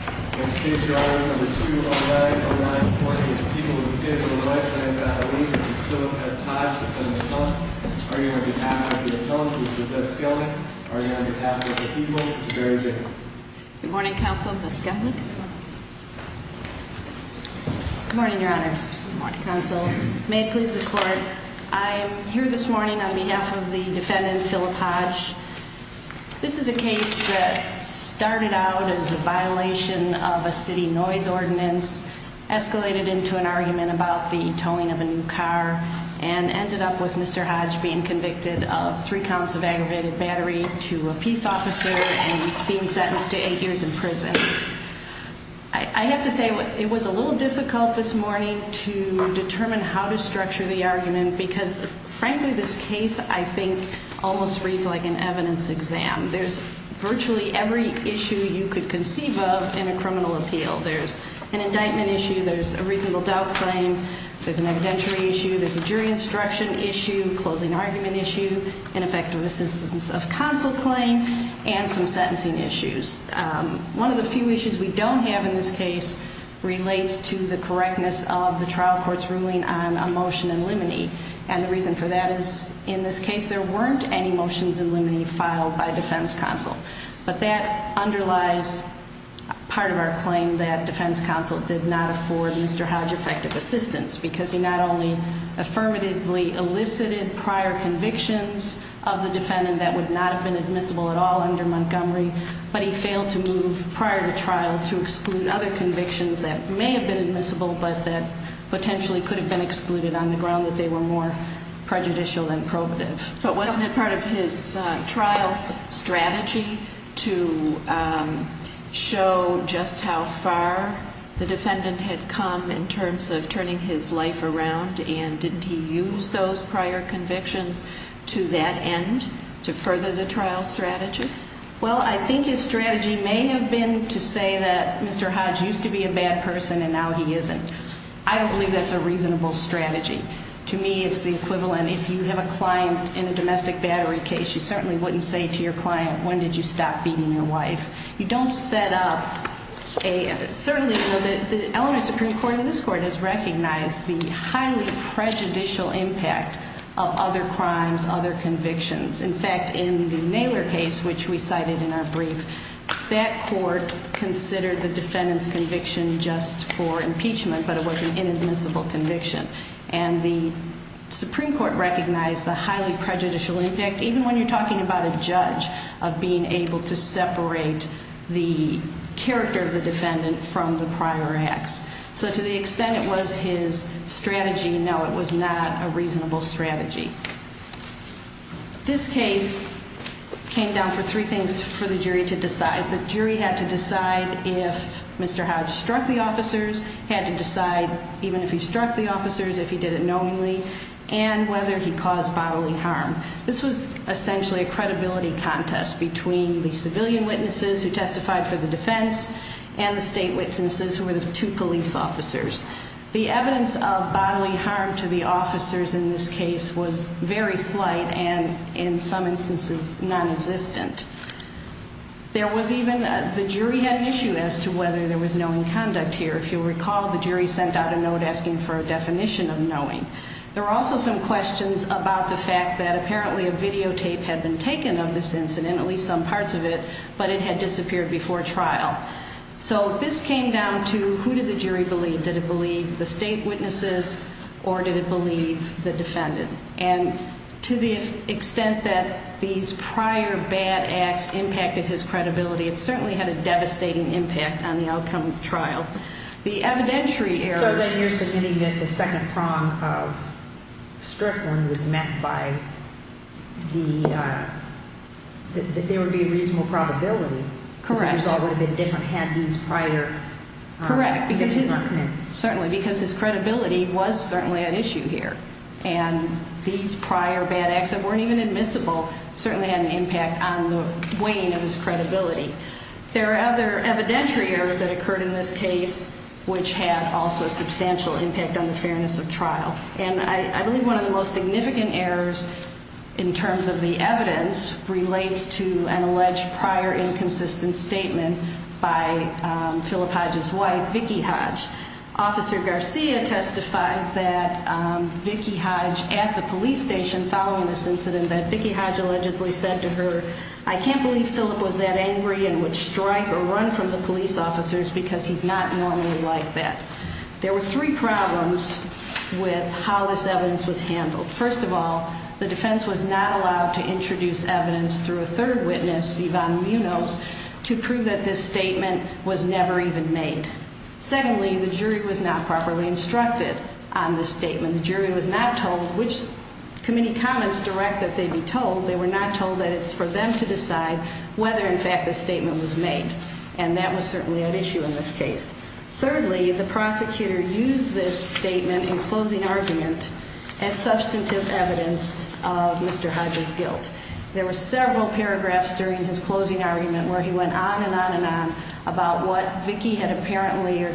2-09-01 Morning, this is Philip S. Hodge, Defendant Scalding, arguing on behalf of the defendant Philip Hodge, Defendant Scalding, arguing on behalf of the people, Mr. Barry Jacobs. Good morning, Counsel. Ms. Scalding? Good morning, Your Honors. Good morning, Counsel. May it please the Court, I am here this morning on behalf of the defendant, Philip Hodge. This is a case that started out as a violation of a city noise ordinance, escalated into an argument about the towing of a new car, and ended up with Mr. Hodge being convicted of three counts of aggravated battery to a peace officer and being sentenced to eight years in prison. I have to say it was a little difficult this morning to determine how to structure the argument because frankly this case I think almost reads like an evidence exam. There's virtually every issue you could conceive of in a criminal appeal. There's an indictment issue, there's a reasonable doubt claim, there's an evidentiary issue, there's a jury instruction issue, closing argument issue, an effective assistance of counsel claim, and some sentencing issues. One of the few issues we don't have in this case relates to the correctness of the trial court's ruling on a motion in limine. And the reason for that is in this case there weren't any motions in limine filed by defense counsel. But that underlies part of our claim that defense counsel did not afford Mr. Hodge effective assistance because he not only affirmatively elicited prior convictions of the defendant that would not have been admissible at all under Montgomery, but he failed to move prior to trial to exclude other convictions that may have been admissible but that potentially could have been excluded on the ground that they were more prejudicial than probative. But wasn't it part of his trial strategy to show just how far the defendant had come in terms of turning his life around and didn't he use those prior convictions to that end to further the trial strategy? Well, I think his strategy may have been to say that Mr. Hodge used to be a bad person and now he isn't. I don't believe that's a reasonable strategy. To me, it's the equivalent if you have a client in a domestic battery case, you certainly wouldn't say to your client, when did you stop beating your wife? You don't set up a, certainly the Eleanor Supreme Court and this court has recognized the highly prejudicial impact of other crimes, other convictions. In fact, in the Naylor case, which we cited in our brief, that court considered the defendant's conviction just for impeachment, but it was an inadmissible conviction. And the Supreme Court recognized the highly prejudicial impact, even when you're talking about a judge, of being able to separate the character of the defendant from the prior acts. So to the extent it was his strategy, no, it was not a reasonable strategy. This case came down for three things for the jury to decide. The jury had to decide if Mr. Hodge struck the officers, had to decide even if he struck the officers, if he did it knowingly, and whether he caused bodily harm. This was essentially a credibility contest between the civilian witnesses who testified for the defense and the state witnesses who were the two police officers. The evidence of bodily harm to the officers in this case was very slight and, in some instances, non-existent. There was even, the jury had an issue as to whether there was knowing conduct here. If you'll recall, the jury sent out a note asking for a definition of knowing. There were also some questions about the fact that apparently a videotape had been taken of this incident, at least some parts of it, but it had disappeared before trial. So this came down to who did the jury believe? Did it believe the state witnesses, or did it believe the defendant? And to the extent that these prior bad acts impacted his credibility, it certainly had a devastating impact on the outcome of the trial. The evidentiary errors- So then you're submitting that the second prong of Strickland was met by the, that there would be a reasonable probability- Correct. That the result would have been different had these prior- Correct. Certainly, because his credibility was certainly at issue here. And these prior bad acts that weren't even admissible certainly had an impact on the weighing of his credibility. There are other evidentiary errors that occurred in this case which had also substantial impact on the fairness of trial. And I believe one of the most significant errors in terms of the evidence relates to an alleged prior inconsistent statement by Philip Hodge's wife, Vicki Hodge. Officer Garcia testified that Vicki Hodge, at the police station following this incident, that Vicki Hodge allegedly said to her, I can't believe Philip was that angry and would strike or run from the police officers because he's not normally like that. There were three problems with how this evidence was handled. First of all, the defense was not allowed to introduce evidence through a third witness, Yvonne Munoz, to prove that this statement was never even made. Secondly, the jury was not properly instructed on this statement. The jury was not told which committee comments direct that they be told. They were not told that it's for them to decide whether, in fact, this statement was made. And that was certainly at issue in this case. Thirdly, the prosecutor used this statement in closing argument as substantive evidence of Mr. Hodge's guilt. There were several paragraphs during his closing argument where he went on and on and on about what Vicki had apparently or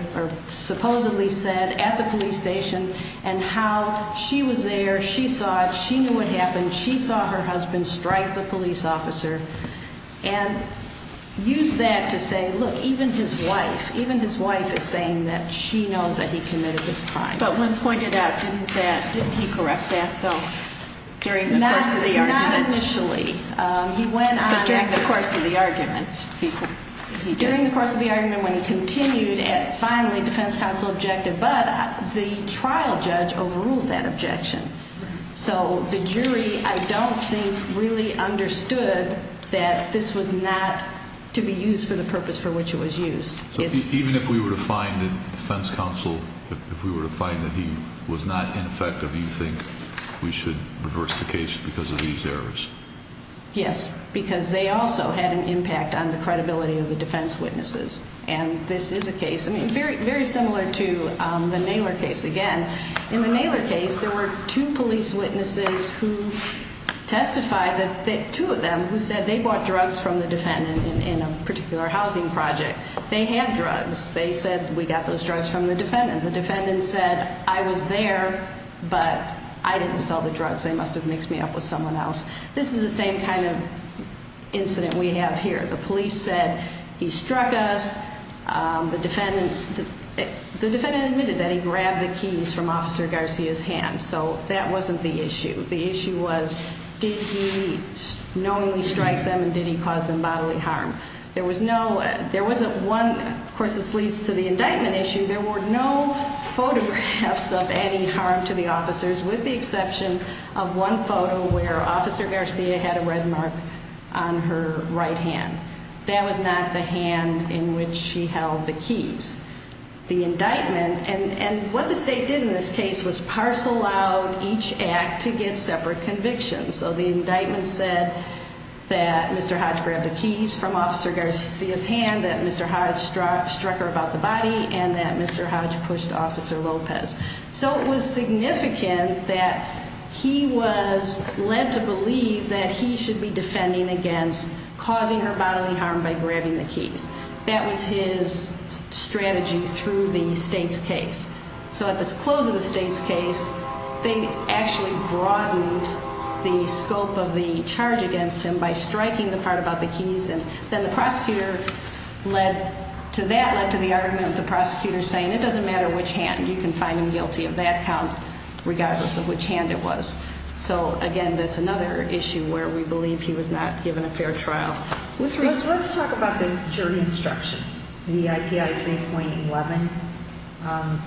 supposedly said at the police station. And how she was there, she saw it, she knew what happened, she saw her husband strike the police officer. And used that to say, look, even his wife, even his wife is saying that she knows that he committed this crime. But when pointed out, didn't he correct that, though, during the course of the argument? Not initially. But during the course of the argument? During the course of the argument when he continued, and finally defense counsel objected. But the trial judge overruled that objection. So the jury, I don't think, really understood that this was not to be used for the purpose for which it was used. So even if we were to find in defense counsel, if we were to find that he was not ineffective, you think we should reverse the case because of these errors? Yes, because they also had an impact on the credibility of the defense witnesses. And this is a case, I mean, very similar to the Naylor case again. In the Naylor case, there were two police witnesses who testified, two of them, who said they bought drugs from the defendant in a particular housing project. They had drugs. They said, we got those drugs from the defendant. The defendant said, I was there, but I didn't sell the drugs. They must have mixed me up with someone else. This is the same kind of incident we have here. The police said, he struck us. The defendant admitted that he grabbed the keys from Officer Garcia's hand. So that wasn't the issue. The issue was, did he knowingly strike them and did he cause them bodily harm? There was no, there wasn't one, of course, this leads to the indictment issue. There were no photographs of any harm to the officers with the exception of one photo where Officer Garcia had a red mark on her right hand. That was not the hand in which she held the keys. The indictment, and what the state did in this case was parcel out each act to give separate convictions. So the indictment said that Mr. Hodge grabbed the keys from Officer Garcia's hand, that Mr. Hodge struck her about the body, and that Mr. Hodge pushed Officer Lopez. So it was significant that he was led to believe that he should be defending against causing her bodily harm by grabbing the keys. That was his strategy through the state's case. So at the close of the state's case, they actually broadened the scope of the charge against him by striking the part about the keys. And then the prosecutor led to that, led to the argument of the prosecutor saying it doesn't matter which hand, you can find him guilty of that count regardless of which hand it was. So again, that's another issue where we believe he was not given a fair trial. Let's talk about this jury instruction, the IPI 3.11.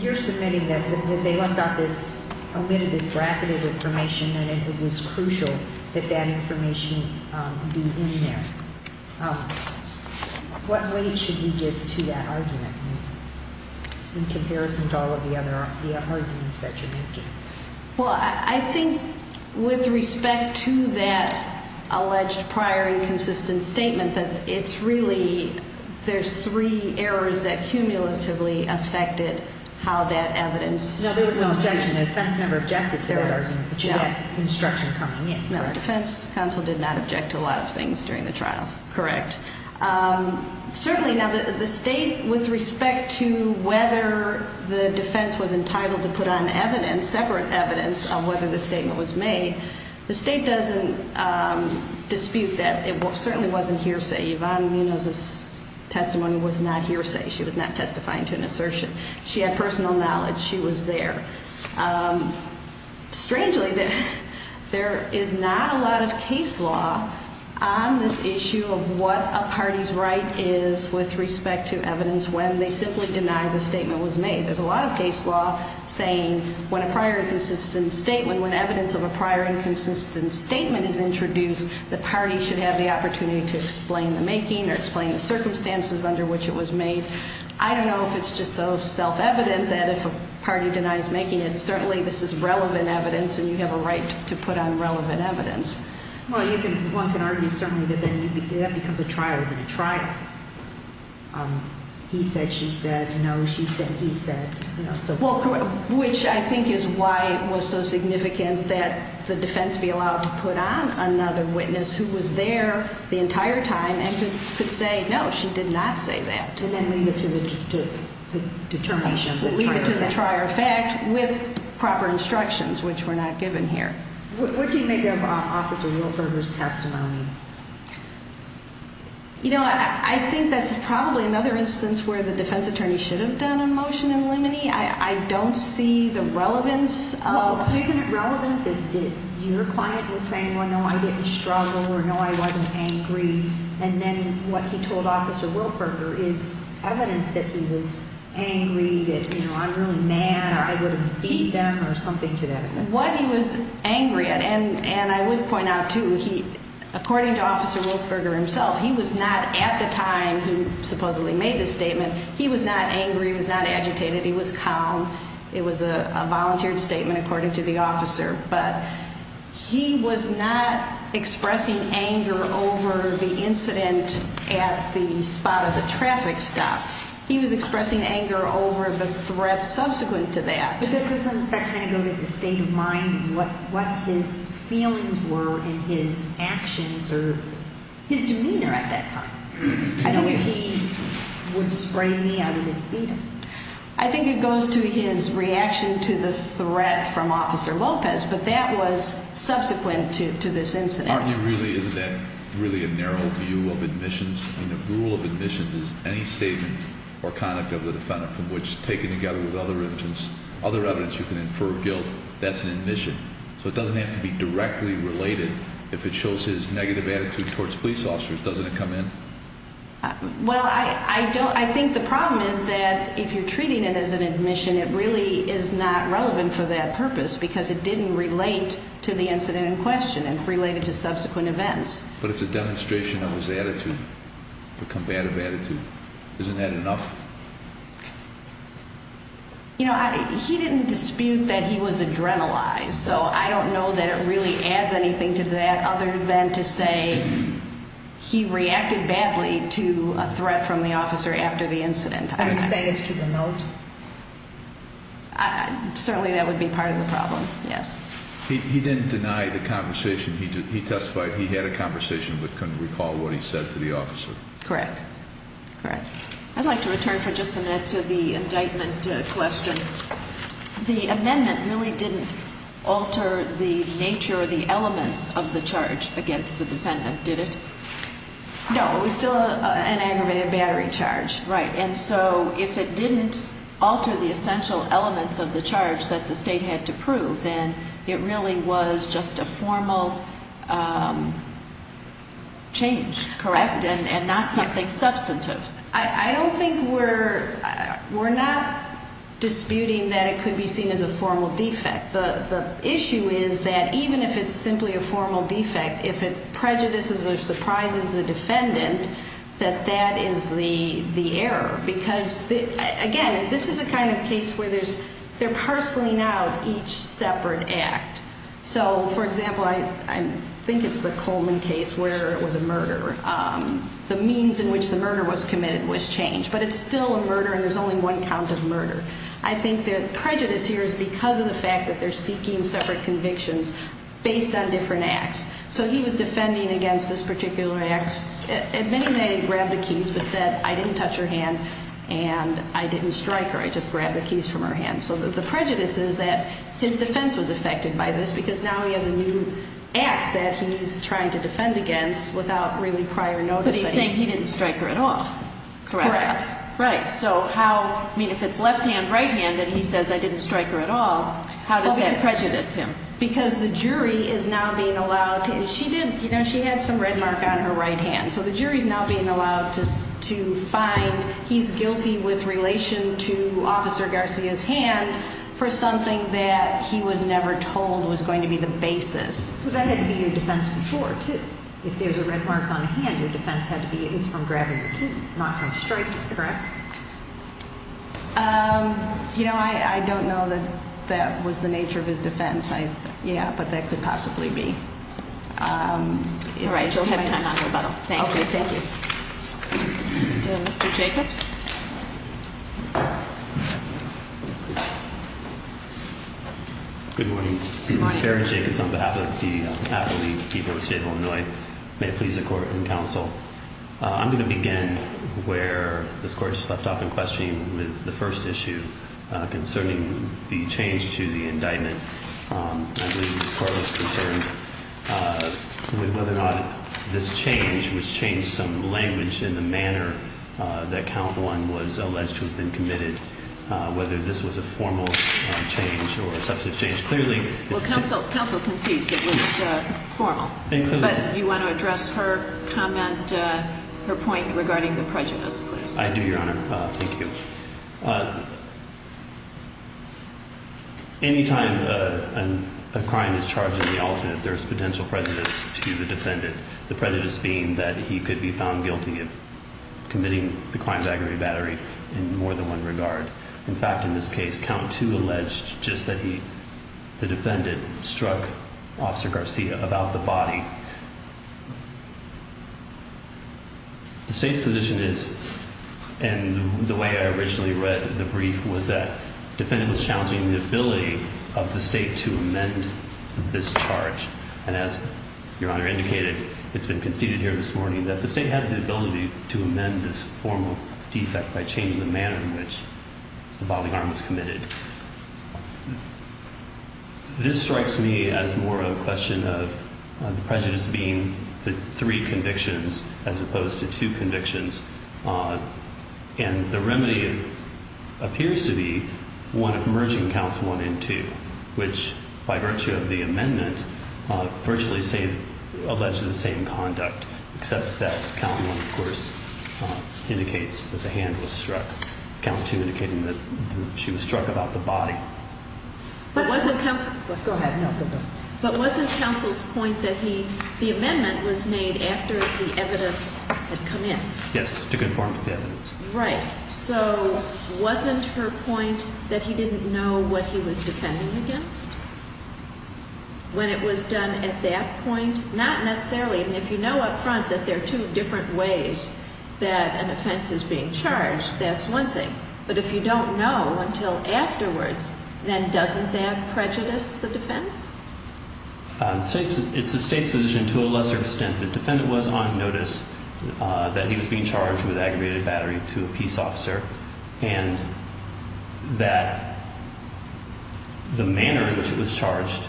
You're submitting that they looked at this, omitted this bracket of information, and it was crucial that that information be in there. What weight should we give to that argument in comparison to all of the other arguments that you're making? Well, I think with respect to that alleged prior inconsistent statement, that it's really there's three errors that cumulatively affected how that evidence was produced. No, there was no objection. The defense never objected to the errors in which you have instruction coming in. No, the defense counsel did not object to a lot of things during the trial. Correct. Certainly now the state with respect to whether the defense was entitled to put on evidence, separate evidence of whether the statement was made, the state doesn't dispute that. It certainly wasn't hearsay. Yvonne Munoz's testimony was not hearsay. She was not testifying to an assertion. She had personal knowledge. She was there. Strangely, there is not a lot of case law on this issue of what a party's right is with respect to evidence when they simply deny the statement was made. There's a lot of case law saying when a prior inconsistent statement, when evidence of a prior inconsistent statement is introduced, the party should have the opportunity to explain the making or explain the circumstances under which it was made. I don't know if it's just so self-evident that if a party denies making it, certainly this is relevant evidence and you have a right to put on relevant evidence. Well, one can argue certainly that that becomes a trial within a trial. He said, she said, no, she said, he said. Which I think is why it was so significant that the defense be allowed to put on another witness who was there the entire time and could say, no, she did not say that. And then lead it to the determination. Lead it to the trier effect with proper instructions, which were not given here. What do you make of Officer Wilberger's testimony? You know, I think that's probably another instance where the defense attorney should have done a motion in limine. I don't see the relevance of. Isn't it relevant that your client was saying, well, no, I didn't struggle or no, I wasn't angry. And then what he told Officer Wilberger is evidence that he was angry, that, you know, I'm really mad or I would have beat them or something to that effect. What he was angry at, and I would point out too, according to Officer Wilberger himself, he was not at the time he supposedly made this statement, he was not angry, he was not agitated, he was calm. But he was not expressing anger over the incident at the spot of the traffic stop. He was expressing anger over the threat subsequent to that. But doesn't that kind of go to the state of mind and what his feelings were and his actions or his demeanor at that time? I think if he would have sprayed me, I would have beat him. I think it goes to his reaction to the threat from Officer Lopez, but that was subsequent to this incident. Aren't you really, isn't that really a narrow view of admissions? I mean, the rule of admissions is any statement or conduct of the defendant from which, taken together with other evidence you can infer guilt, that's an admission. So it doesn't have to be directly related. If it shows his negative attitude towards police officers, doesn't it come in? Well, I think the problem is that if you're treating it as an admission, it really is not relevant for that purpose because it didn't relate to the incident in question and related to subsequent events. But it's a demonstration of his attitude, the combative attitude. Isn't that enough? He didn't dispute that he was adrenalized, so I don't know that it really adds anything to that other than to say he reacted badly to a threat from the officer after the incident. Are you saying it's to the note? Certainly that would be part of the problem, yes. He didn't deny the conversation. He testified he had a conversation but couldn't recall what he said to the officer. Correct. I'd like to return for just a minute to the indictment question. The amendment really didn't alter the nature or the elements of the charge against the defendant, did it? No, it was still an aggravated battery charge. Right. And so if it didn't alter the essential elements of the charge that the state had to prove, then it really was just a formal change, correct, and not something substantive. I don't think we're not disputing that it could be seen as a formal defect. The issue is that even if it's simply a formal defect, if it prejudices or surprises the defendant, that that is the error. Because, again, this is the kind of case where they're parceling out each separate act. So, for example, I think it's the Coleman case where it was a murder. The means in which the murder was committed was changed. But it's still a murder and there's only one count of murder. I think the prejudice here is because of the fact that they're seeking separate convictions based on different acts. So he was defending against this particular act, admitting that he grabbed the keys but said, I didn't touch her hand and I didn't strike her, I just grabbed the keys from her hand. So the prejudice is that his defense was affected by this because now he has a new act that he's trying to defend against without really prior notice. But he's saying he didn't strike her at all. Correct. Right. So how, I mean, if it's left hand, right hand, and he says, I didn't strike her at all, how does that prejudice him? Because the jury is now being allowed to, and she did, you know, she had some red mark on her right hand. So the jury is now being allowed to find he's guilty with relation to Officer Garcia's hand for something that he was never told was going to be the basis. But that had to be your defense before, too. If there's a red mark on the hand, your defense had to be it's from grabbing the keys, not from striking, correct? You know, I don't know that that was the nature of his defense. Yeah, but that could possibly be. All right. Thank you. Mr. Jacobs. Good morning. Very Jacobs on behalf of the people of the state of Illinois. May it please the court and counsel. I'm going to begin where this court just left off in questioning with the first issue concerning the change to the indictment. I believe this court was concerned with whether or not this change was changed some language in the manner that count one was alleged to have been committed, whether this was a formal change or a substantive change. Clearly. Well, counsel concedes it was formal. But you want to address her comment, her point regarding the prejudice, please. I do, Your Honor. Thank you. Any time a crime is charged in the alternate, there's potential prejudice to the defendant. The prejudice being that he could be found guilty of committing the crime of aggravated battery in more than one regard. In fact, in this case, count to alleged just that he the defendant struck officer Garcia about the body. The state's position is and the way I originally read the brief was that defendant was challenging the ability of the state to amend this charge. And as your honor indicated, it's been conceded here this morning that the state had the ability to amend this formal defect by changing the manner in which the body arm was committed. This strikes me as more of a question of the prejudice being the three convictions as opposed to two convictions. And the remedy appears to be one of merging counts one and two, which, by virtue of the amendment, virtually say alleged the same conduct. Except that count one, of course, indicates that the hand was struck. Count to indicating that she was struck about the body. But wasn't counsel. Go ahead. No, but wasn't counsel's point that he the amendment was made after the evidence had come in? Yes, to conform to the evidence. Right. So wasn't her point that he didn't know what he was defending against when it was done at that point? Not necessarily. And if you know up front that there are two different ways that an offense is being charged, that's one thing. But if you don't know until afterwards, then doesn't that prejudice the defense? It's the state's position to a lesser extent. The defendant was on notice that he was being charged with aggravated battery to a peace officer and that the manner in which it was charged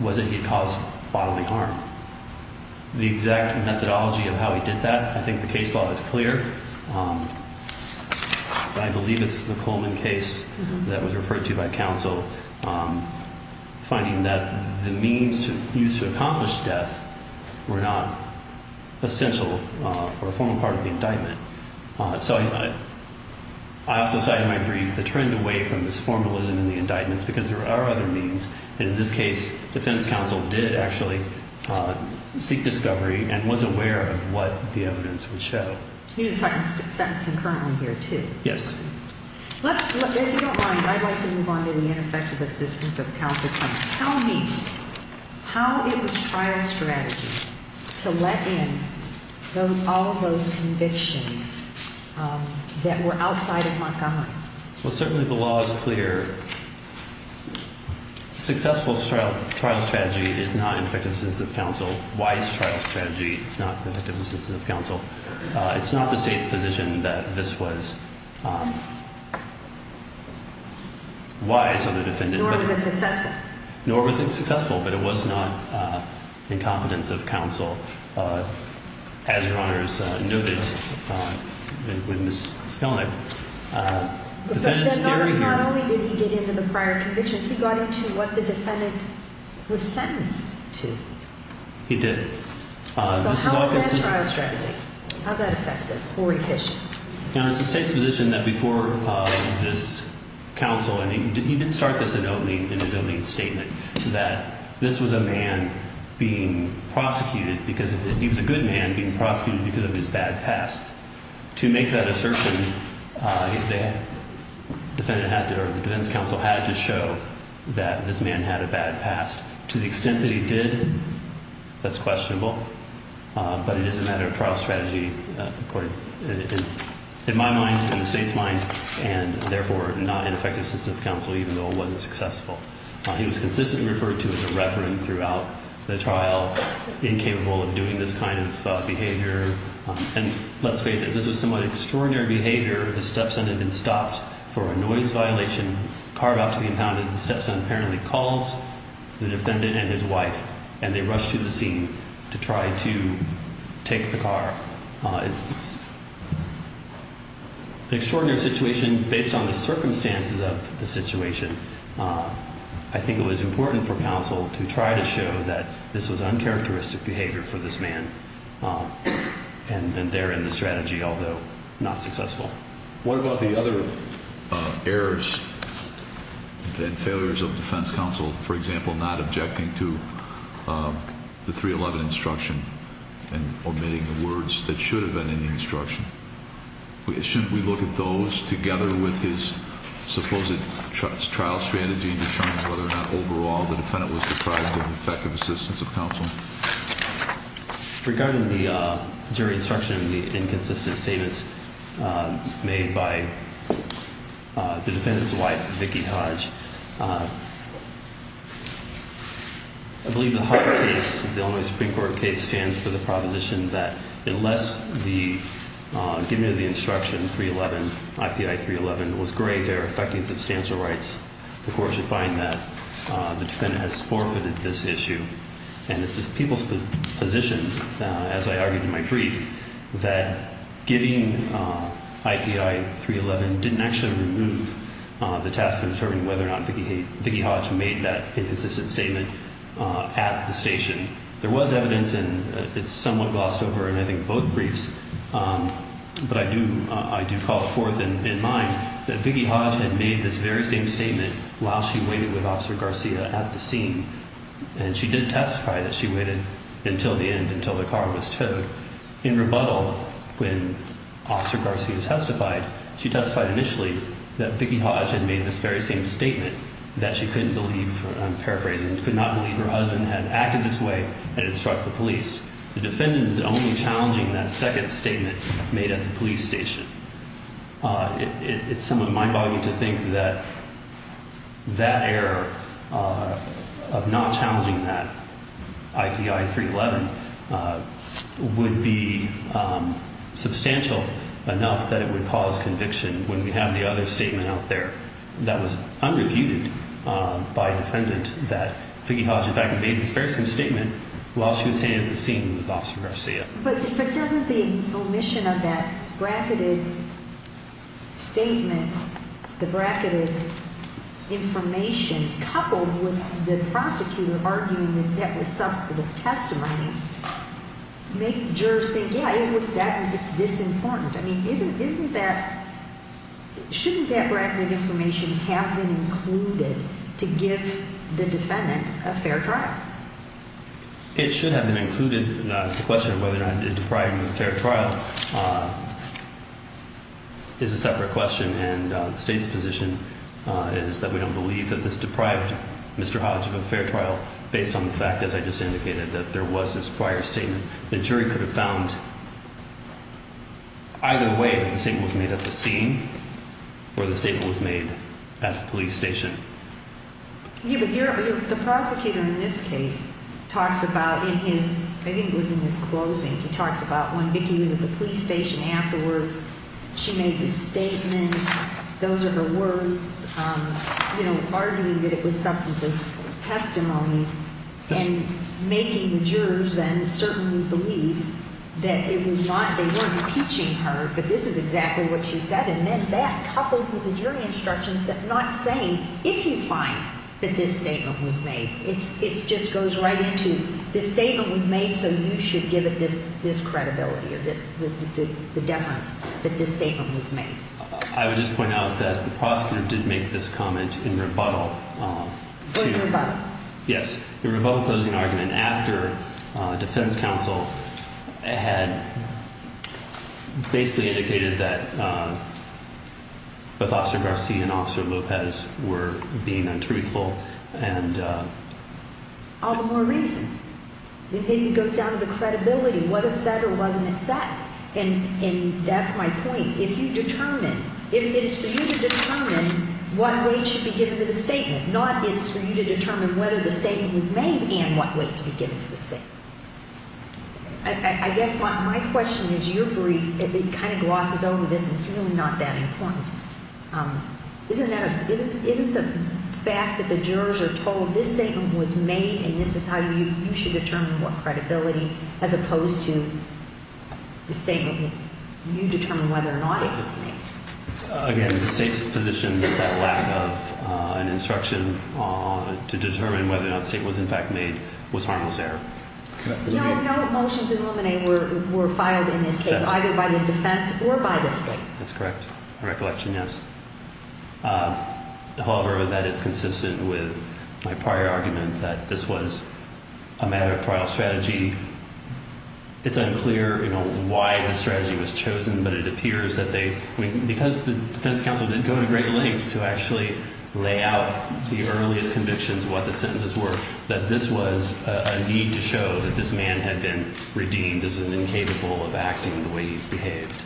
was that he caused bodily harm. The exact methodology of how he did that, I think the case law is clear. I believe it's the Coleman case that was referred to by counsel. Finding that the means to use to accomplish death were not essential or a formal part of the indictment. So I also cited my brief, the trend away from this formalism in the indictments because there are other means. In this case, defense counsel did actually seek discovery and was aware of what the evidence would show. He was sentenced concurrently here too. Yes. If you don't mind, I'd like to move on to the ineffective assistance of counsel. Tell me how it was trial strategy to let in all those convictions that were outside of Montgomery. Well, certainly the law is clear. Successful trial strategy is not ineffective assistance of counsel. It's not the state's position that this was wise of the defendant. Nor was it successful. Nor was it successful, but it was not incompetence of counsel. As Your Honor's noted with Ms. Kellenich, defendant's theory here. Not only did he get into the prior convictions, he got into what the defendant was sentenced to. He did. So how was that a trial strategy? How's that effective or efficient? Your Honor, it's the state's position that before this counsel, and he did start this in his opening statement, that this was a man being prosecuted because he was a good man being prosecuted because of his bad past. To make that assertion, the defendant had to, or the defense counsel had to show that this man had a bad past. To the extent that he did, that's questionable, but it is a matter of trial strategy in my mind, in the state's mind, and therefore not an effective assistance of counsel, even though it wasn't successful. He was consistently referred to as a reverend throughout the trial, incapable of doing this kind of behavior. And let's face it, this was somewhat extraordinary behavior. The stepson had been stopped for a noise violation, carve out to be impounded. The stepson apparently calls the defendant and his wife, and they rush to the scene to try to take the car. It's an extraordinary situation based on the circumstances of the situation. I think it was important for counsel to try to show that this was uncharacteristic behavior for this man, and therein the strategy, although not successful. What about the other errors and failures of defense counsel, for example, not objecting to the 311 instruction and omitting the words that should have been in the instruction? Shouldn't we look at those together with his supposed trial strategy and determine whether or not overall the defendant was deprived of effective assistance of counsel? Regarding the jury instruction and the inconsistent statements made by the defendant's wife, Vicki Hodge, I believe the Hodge case, the Illinois Supreme Court case, stands for the proposition that unless the giving of the instruction 311, IPI 311, was grave error affecting substantial rights, the court should find that the defendant has forfeited this issue. And it's the people's position, as I argued in my brief, that giving IPI 311 didn't actually remove the task of determining whether or not Vicki Hodge made that inconsistent statement at the station. There was evidence, and it's somewhat glossed over in I think both briefs, but I do call forth in mind that Vicki Hodge had made this very same statement while she waited with Officer Garcia at the scene, and she did testify that she waited until the end, until the car was towed. In rebuttal, when Officer Garcia testified, she testified initially that Vicki Hodge had made this very same statement that she couldn't believe, I'm paraphrasing, could not believe her husband had acted this way and had struck the police. The defendant is only challenging that second statement made at the police station. It's somewhat mind-boggling to think that that error of not challenging that IPI 311 would be substantial enough that it would cause conviction when we have the other statement out there that was unrebutted by a defendant that Vicki Hodge in fact made this very same statement while she was standing at the scene with Officer Garcia. But doesn't the omission of that bracketed statement, the bracketed information, coupled with the prosecutor arguing that that was substantive testimony, make the jurors think, yeah, it was said and it's this important? I mean, isn't that – shouldn't that bracketed information have been included to give the defendant a fair trial? It should have been included. The question of whether or not it deprived him of a fair trial is a separate question. And the State's position is that we don't believe that this deprived Mr. Hodge of a fair trial based on the fact, as I just indicated, that there was this prior statement. The jury could have found either way that the statement was made at the scene or the statement was made at the police station. Yeah, but the prosecutor in this case talks about in his – I think it was in his closing, he talks about when Vicki was at the police station afterwards, she made this statement, those are her words, you know, arguing that it was substantive testimony and making the jurors then certainly believe that it was not – they weren't impeaching her, but this is exactly what she said. And then that, coupled with the jury instructions, is not saying, if you find that this statement was made, it just goes right into, this statement was made so you should give it this credibility or the deference that this statement was made. I would just point out that the prosecutor did make this comment in rebuttal to – Was it a rebuttal? Yes, the rebuttal closing argument after defense counsel had basically indicated that both Officer Garcia and Officer Lopez were being untruthful and – All the more reason. It goes down to the credibility. Was it said or wasn't it said? And that's my point. If you determine – if it is for you to determine what weight should be given to the statement, not if it's for you to determine whether the statement was made and what weight to be given to the statement. I guess my question is, your brief, it kind of glosses over this and it's really not that important. Isn't that a – isn't the fact that the jurors are told this statement was made and this is how you should determine what credibility, as opposed to the statement – you determine whether or not it was made. Again, the state's position is that lack of an instruction to determine whether or not the statement was in fact made was harmless error. No motions in Luminae were filed in this case, either by the defense or by the state. That's correct. My recollection, yes. However, that is consistent with my prior argument that this was a matter of trial strategy. It's unclear why the strategy was chosen, but it appears that they – because the defense counsel didn't go to great lengths to actually lay out the earliest convictions, what the sentences were, that this was a need to show that this man had been redeemed as incapable of acting the way he behaved.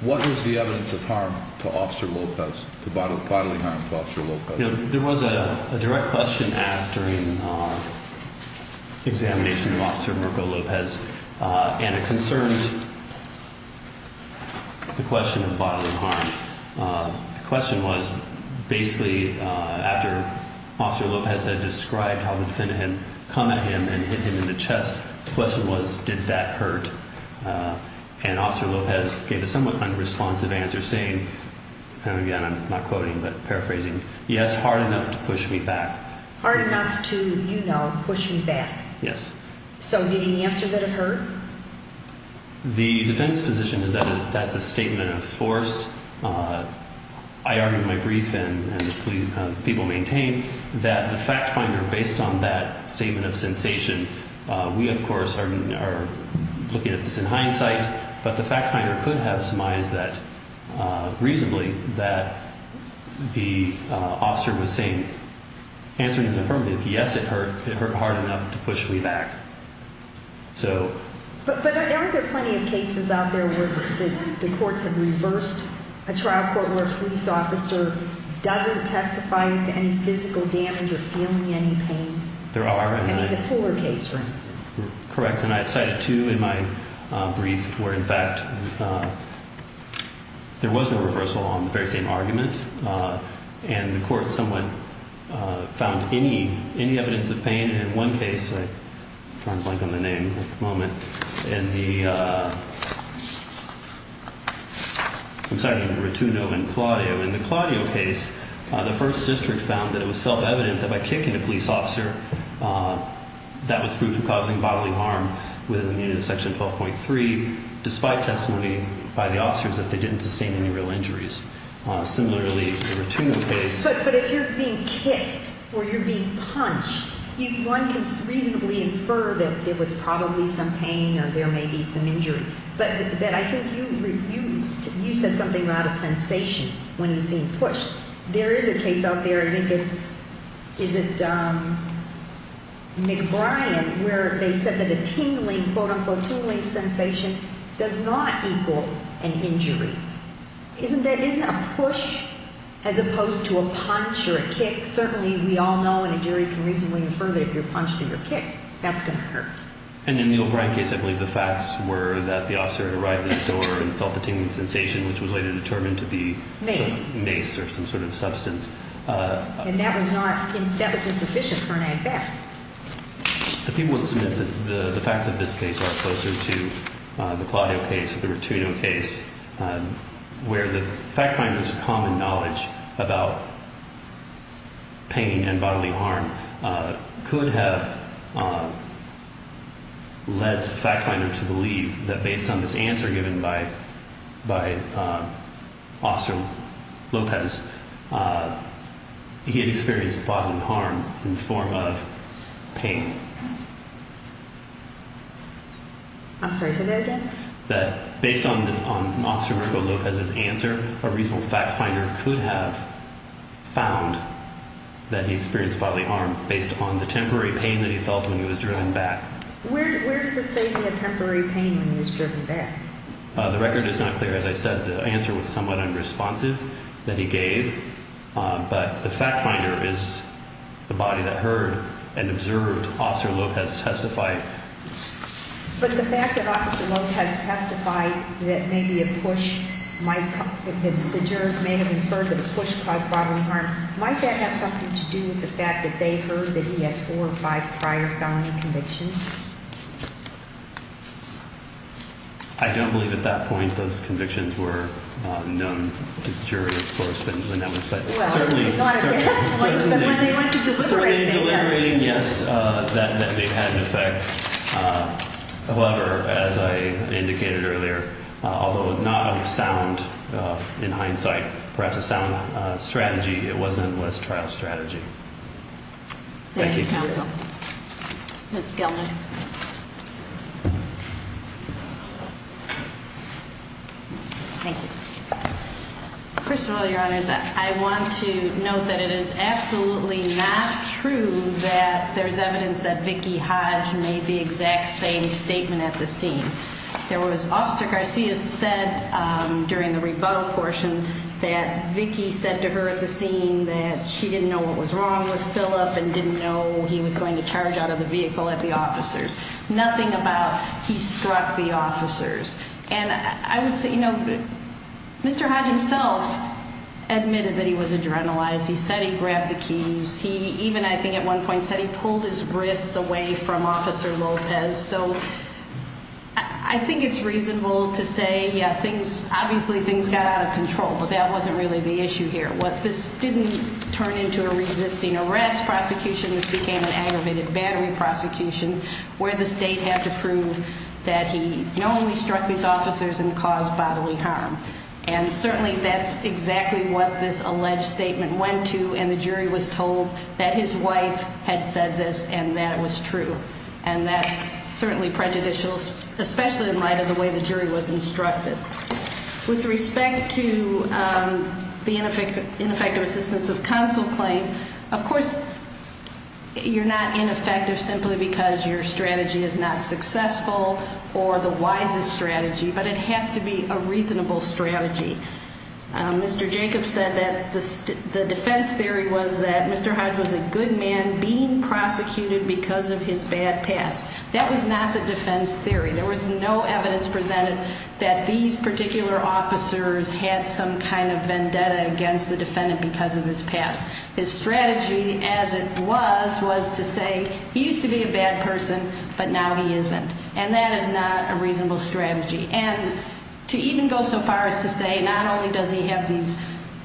What was the evidence of harm to Officer Lopez, bodily harm to Officer Lopez? You know, there was a direct question asked during the examination of Officer Mirko Lopez, and it concerned the question of bodily harm. The question was, basically, after Officer Lopez had described how the defendant had come at him and hit him in the chest, the question was, did that hurt? And Officer Lopez gave a somewhat unresponsive answer, saying – and again, I'm not quoting, but paraphrasing – yes, hard enough to push me back. Hard enough to, you know, push me back. Yes. So did he answer that it hurt? The defense position is that that's a statement of force. I argued in my brief, and people maintain, that the fact finder, based on that statement of sensation, we, of course, are looking at this in hindsight, but the fact finder could have surmised that reasonably, that the officer was saying, answering the affirmative, yes, it hurt. It hurt hard enough to push me back. But aren't there plenty of cases out there where the courts have reversed a trial court where a police officer doesn't testify as to any physical damage or feeling any pain? There are. I mean, the Fore case, for instance. Correct. And I've cited two in my brief where, in fact, there was a reversal on the very same argument, and the court somewhat found any evidence of pain. And in one case, I'm trying to blank on the name at the moment, in the – I'm sorry, in the Ratuno and Claudio. In the Claudio case, the first district found that it was self-evident that by kicking a police officer, that was proof of causing bodily harm within the unit of section 12.3, despite testimony by the officers that they didn't sustain any real injuries. Similarly, the Ratuno case. But if you're being kicked or you're being punched, one can reasonably infer that there was probably some pain or there may be some injury. But I think you said something about a sensation when he's being pushed. There is a case out there. I think it's – is it McBrien where they said that a tingling, quote-unquote, tingling sensation does not equal an injury. Isn't that – isn't a push as opposed to a punch or a kick – certainly we all know and a jury can reasonably infer that if you're punched and you're kicked, that's going to hurt. And in the McBrien case, I believe the facts were that the officer had arrived at the door and felt the tingling sensation, which was later determined to be mace or some sort of substance. And that was not – that wasn't sufficient for an act of theft. The people that submitted the facts of this case are closer to the Claudio case, the Ratuno case, where the fact finder's common knowledge about pain and bodily harm could have led the fact finder to believe that based on this answer given by Officer Lopez, he had experienced bodily harm in the form of pain. I'm sorry, say that again. That based on Officer Marco Lopez's answer, a reasonable fact finder could have found that he experienced bodily harm based on the temporary pain that he felt when he was driven back. Where does it say he had temporary pain when he was driven back? The record is not clear. As I said, the answer was somewhat unresponsive that he gave, but the fact finder is the body that heard and observed Officer Lopez testify. But the fact that Officer Lopez testified that maybe a push might – that the jurors may have inferred that a push caused bodily harm, might that have something to do with the fact that they heard that he had four or five prior felony convictions? I don't believe at that point those convictions were known to the jury, of course. Well, certainly not at that point, but when they went to deliberate, they did. Certainly in deliberating, yes, that they had an effect. However, as I indicated earlier, although not of sound in hindsight, perhaps a sound strategy, it was an endless trial strategy. Thank you. Thank you, counsel. Ms. Skelman. Thank you. First of all, Your Honors, I want to note that it is absolutely not true that there's evidence that Vicki Hodge made the exact same statement at the scene. There was – Officer Garcia said during the rebuttal portion that Vicki said to her at the scene that she didn't know what was wrong with Philip and didn't know he was going to charge out of the vehicle at the officers. Nothing about he struck the officers. And I would say, you know, Mr. Hodge himself admitted that he was adrenalized. He said he grabbed the keys. He even, I think at one point, said he pulled his wrists away from Officer Lopez. So I think it's reasonable to say, yeah, things – obviously things got out of control, but that wasn't really the issue here. This didn't turn into a resisting arrest prosecution. This became an aggravated battery prosecution where the state had to prove that he not only struck these officers and caused bodily harm. And certainly that's exactly what this alleged statement went to, and the jury was told that his wife had said this and that it was true. And that's certainly prejudicial, especially in light of the way the jury was instructed. With respect to the ineffective assistance of counsel claim, of course you're not ineffective simply because your strategy is not successful or the wisest strategy, but it has to be a reasonable strategy. Mr. Jacobs said that the defense theory was that Mr. Hodge was a good man being prosecuted because of his bad past. That was not the defense theory. There was no evidence presented that these particular officers had some kind of vendetta against the defendant because of his past. His strategy, as it was, was to say he used to be a bad person, but now he isn't. And that is not a reasonable strategy. And to even go so far as to say not only does he have these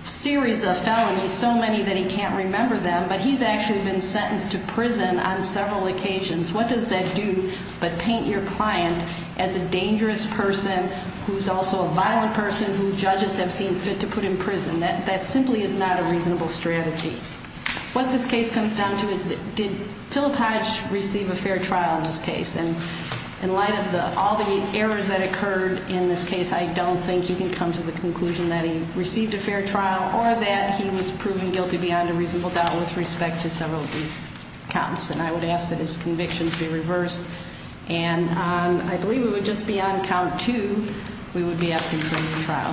series of felonies, so many that he can't remember them, but he's actually been sentenced to prison on several occasions. What does that do but paint your client as a dangerous person who's also a violent person who judges have seen fit to put in prison? That simply is not a reasonable strategy. What this case comes down to is did Philip Hodge receive a fair trial in this case? And in light of all the errors that occurred in this case, I don't think you can come to the conclusion that he received a fair trial or that he was proven guilty beyond a reasonable doubt with respect to several of these counts. And I would ask that his convictions be reversed. And I believe it would just be on count two we would be asking for a new trial.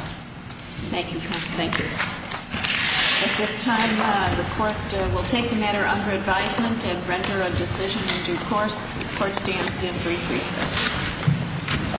Thank you, counsel. Thank you. At this time, the court will take the matter under advisement and render a decision in due course. The court stands in brief recess.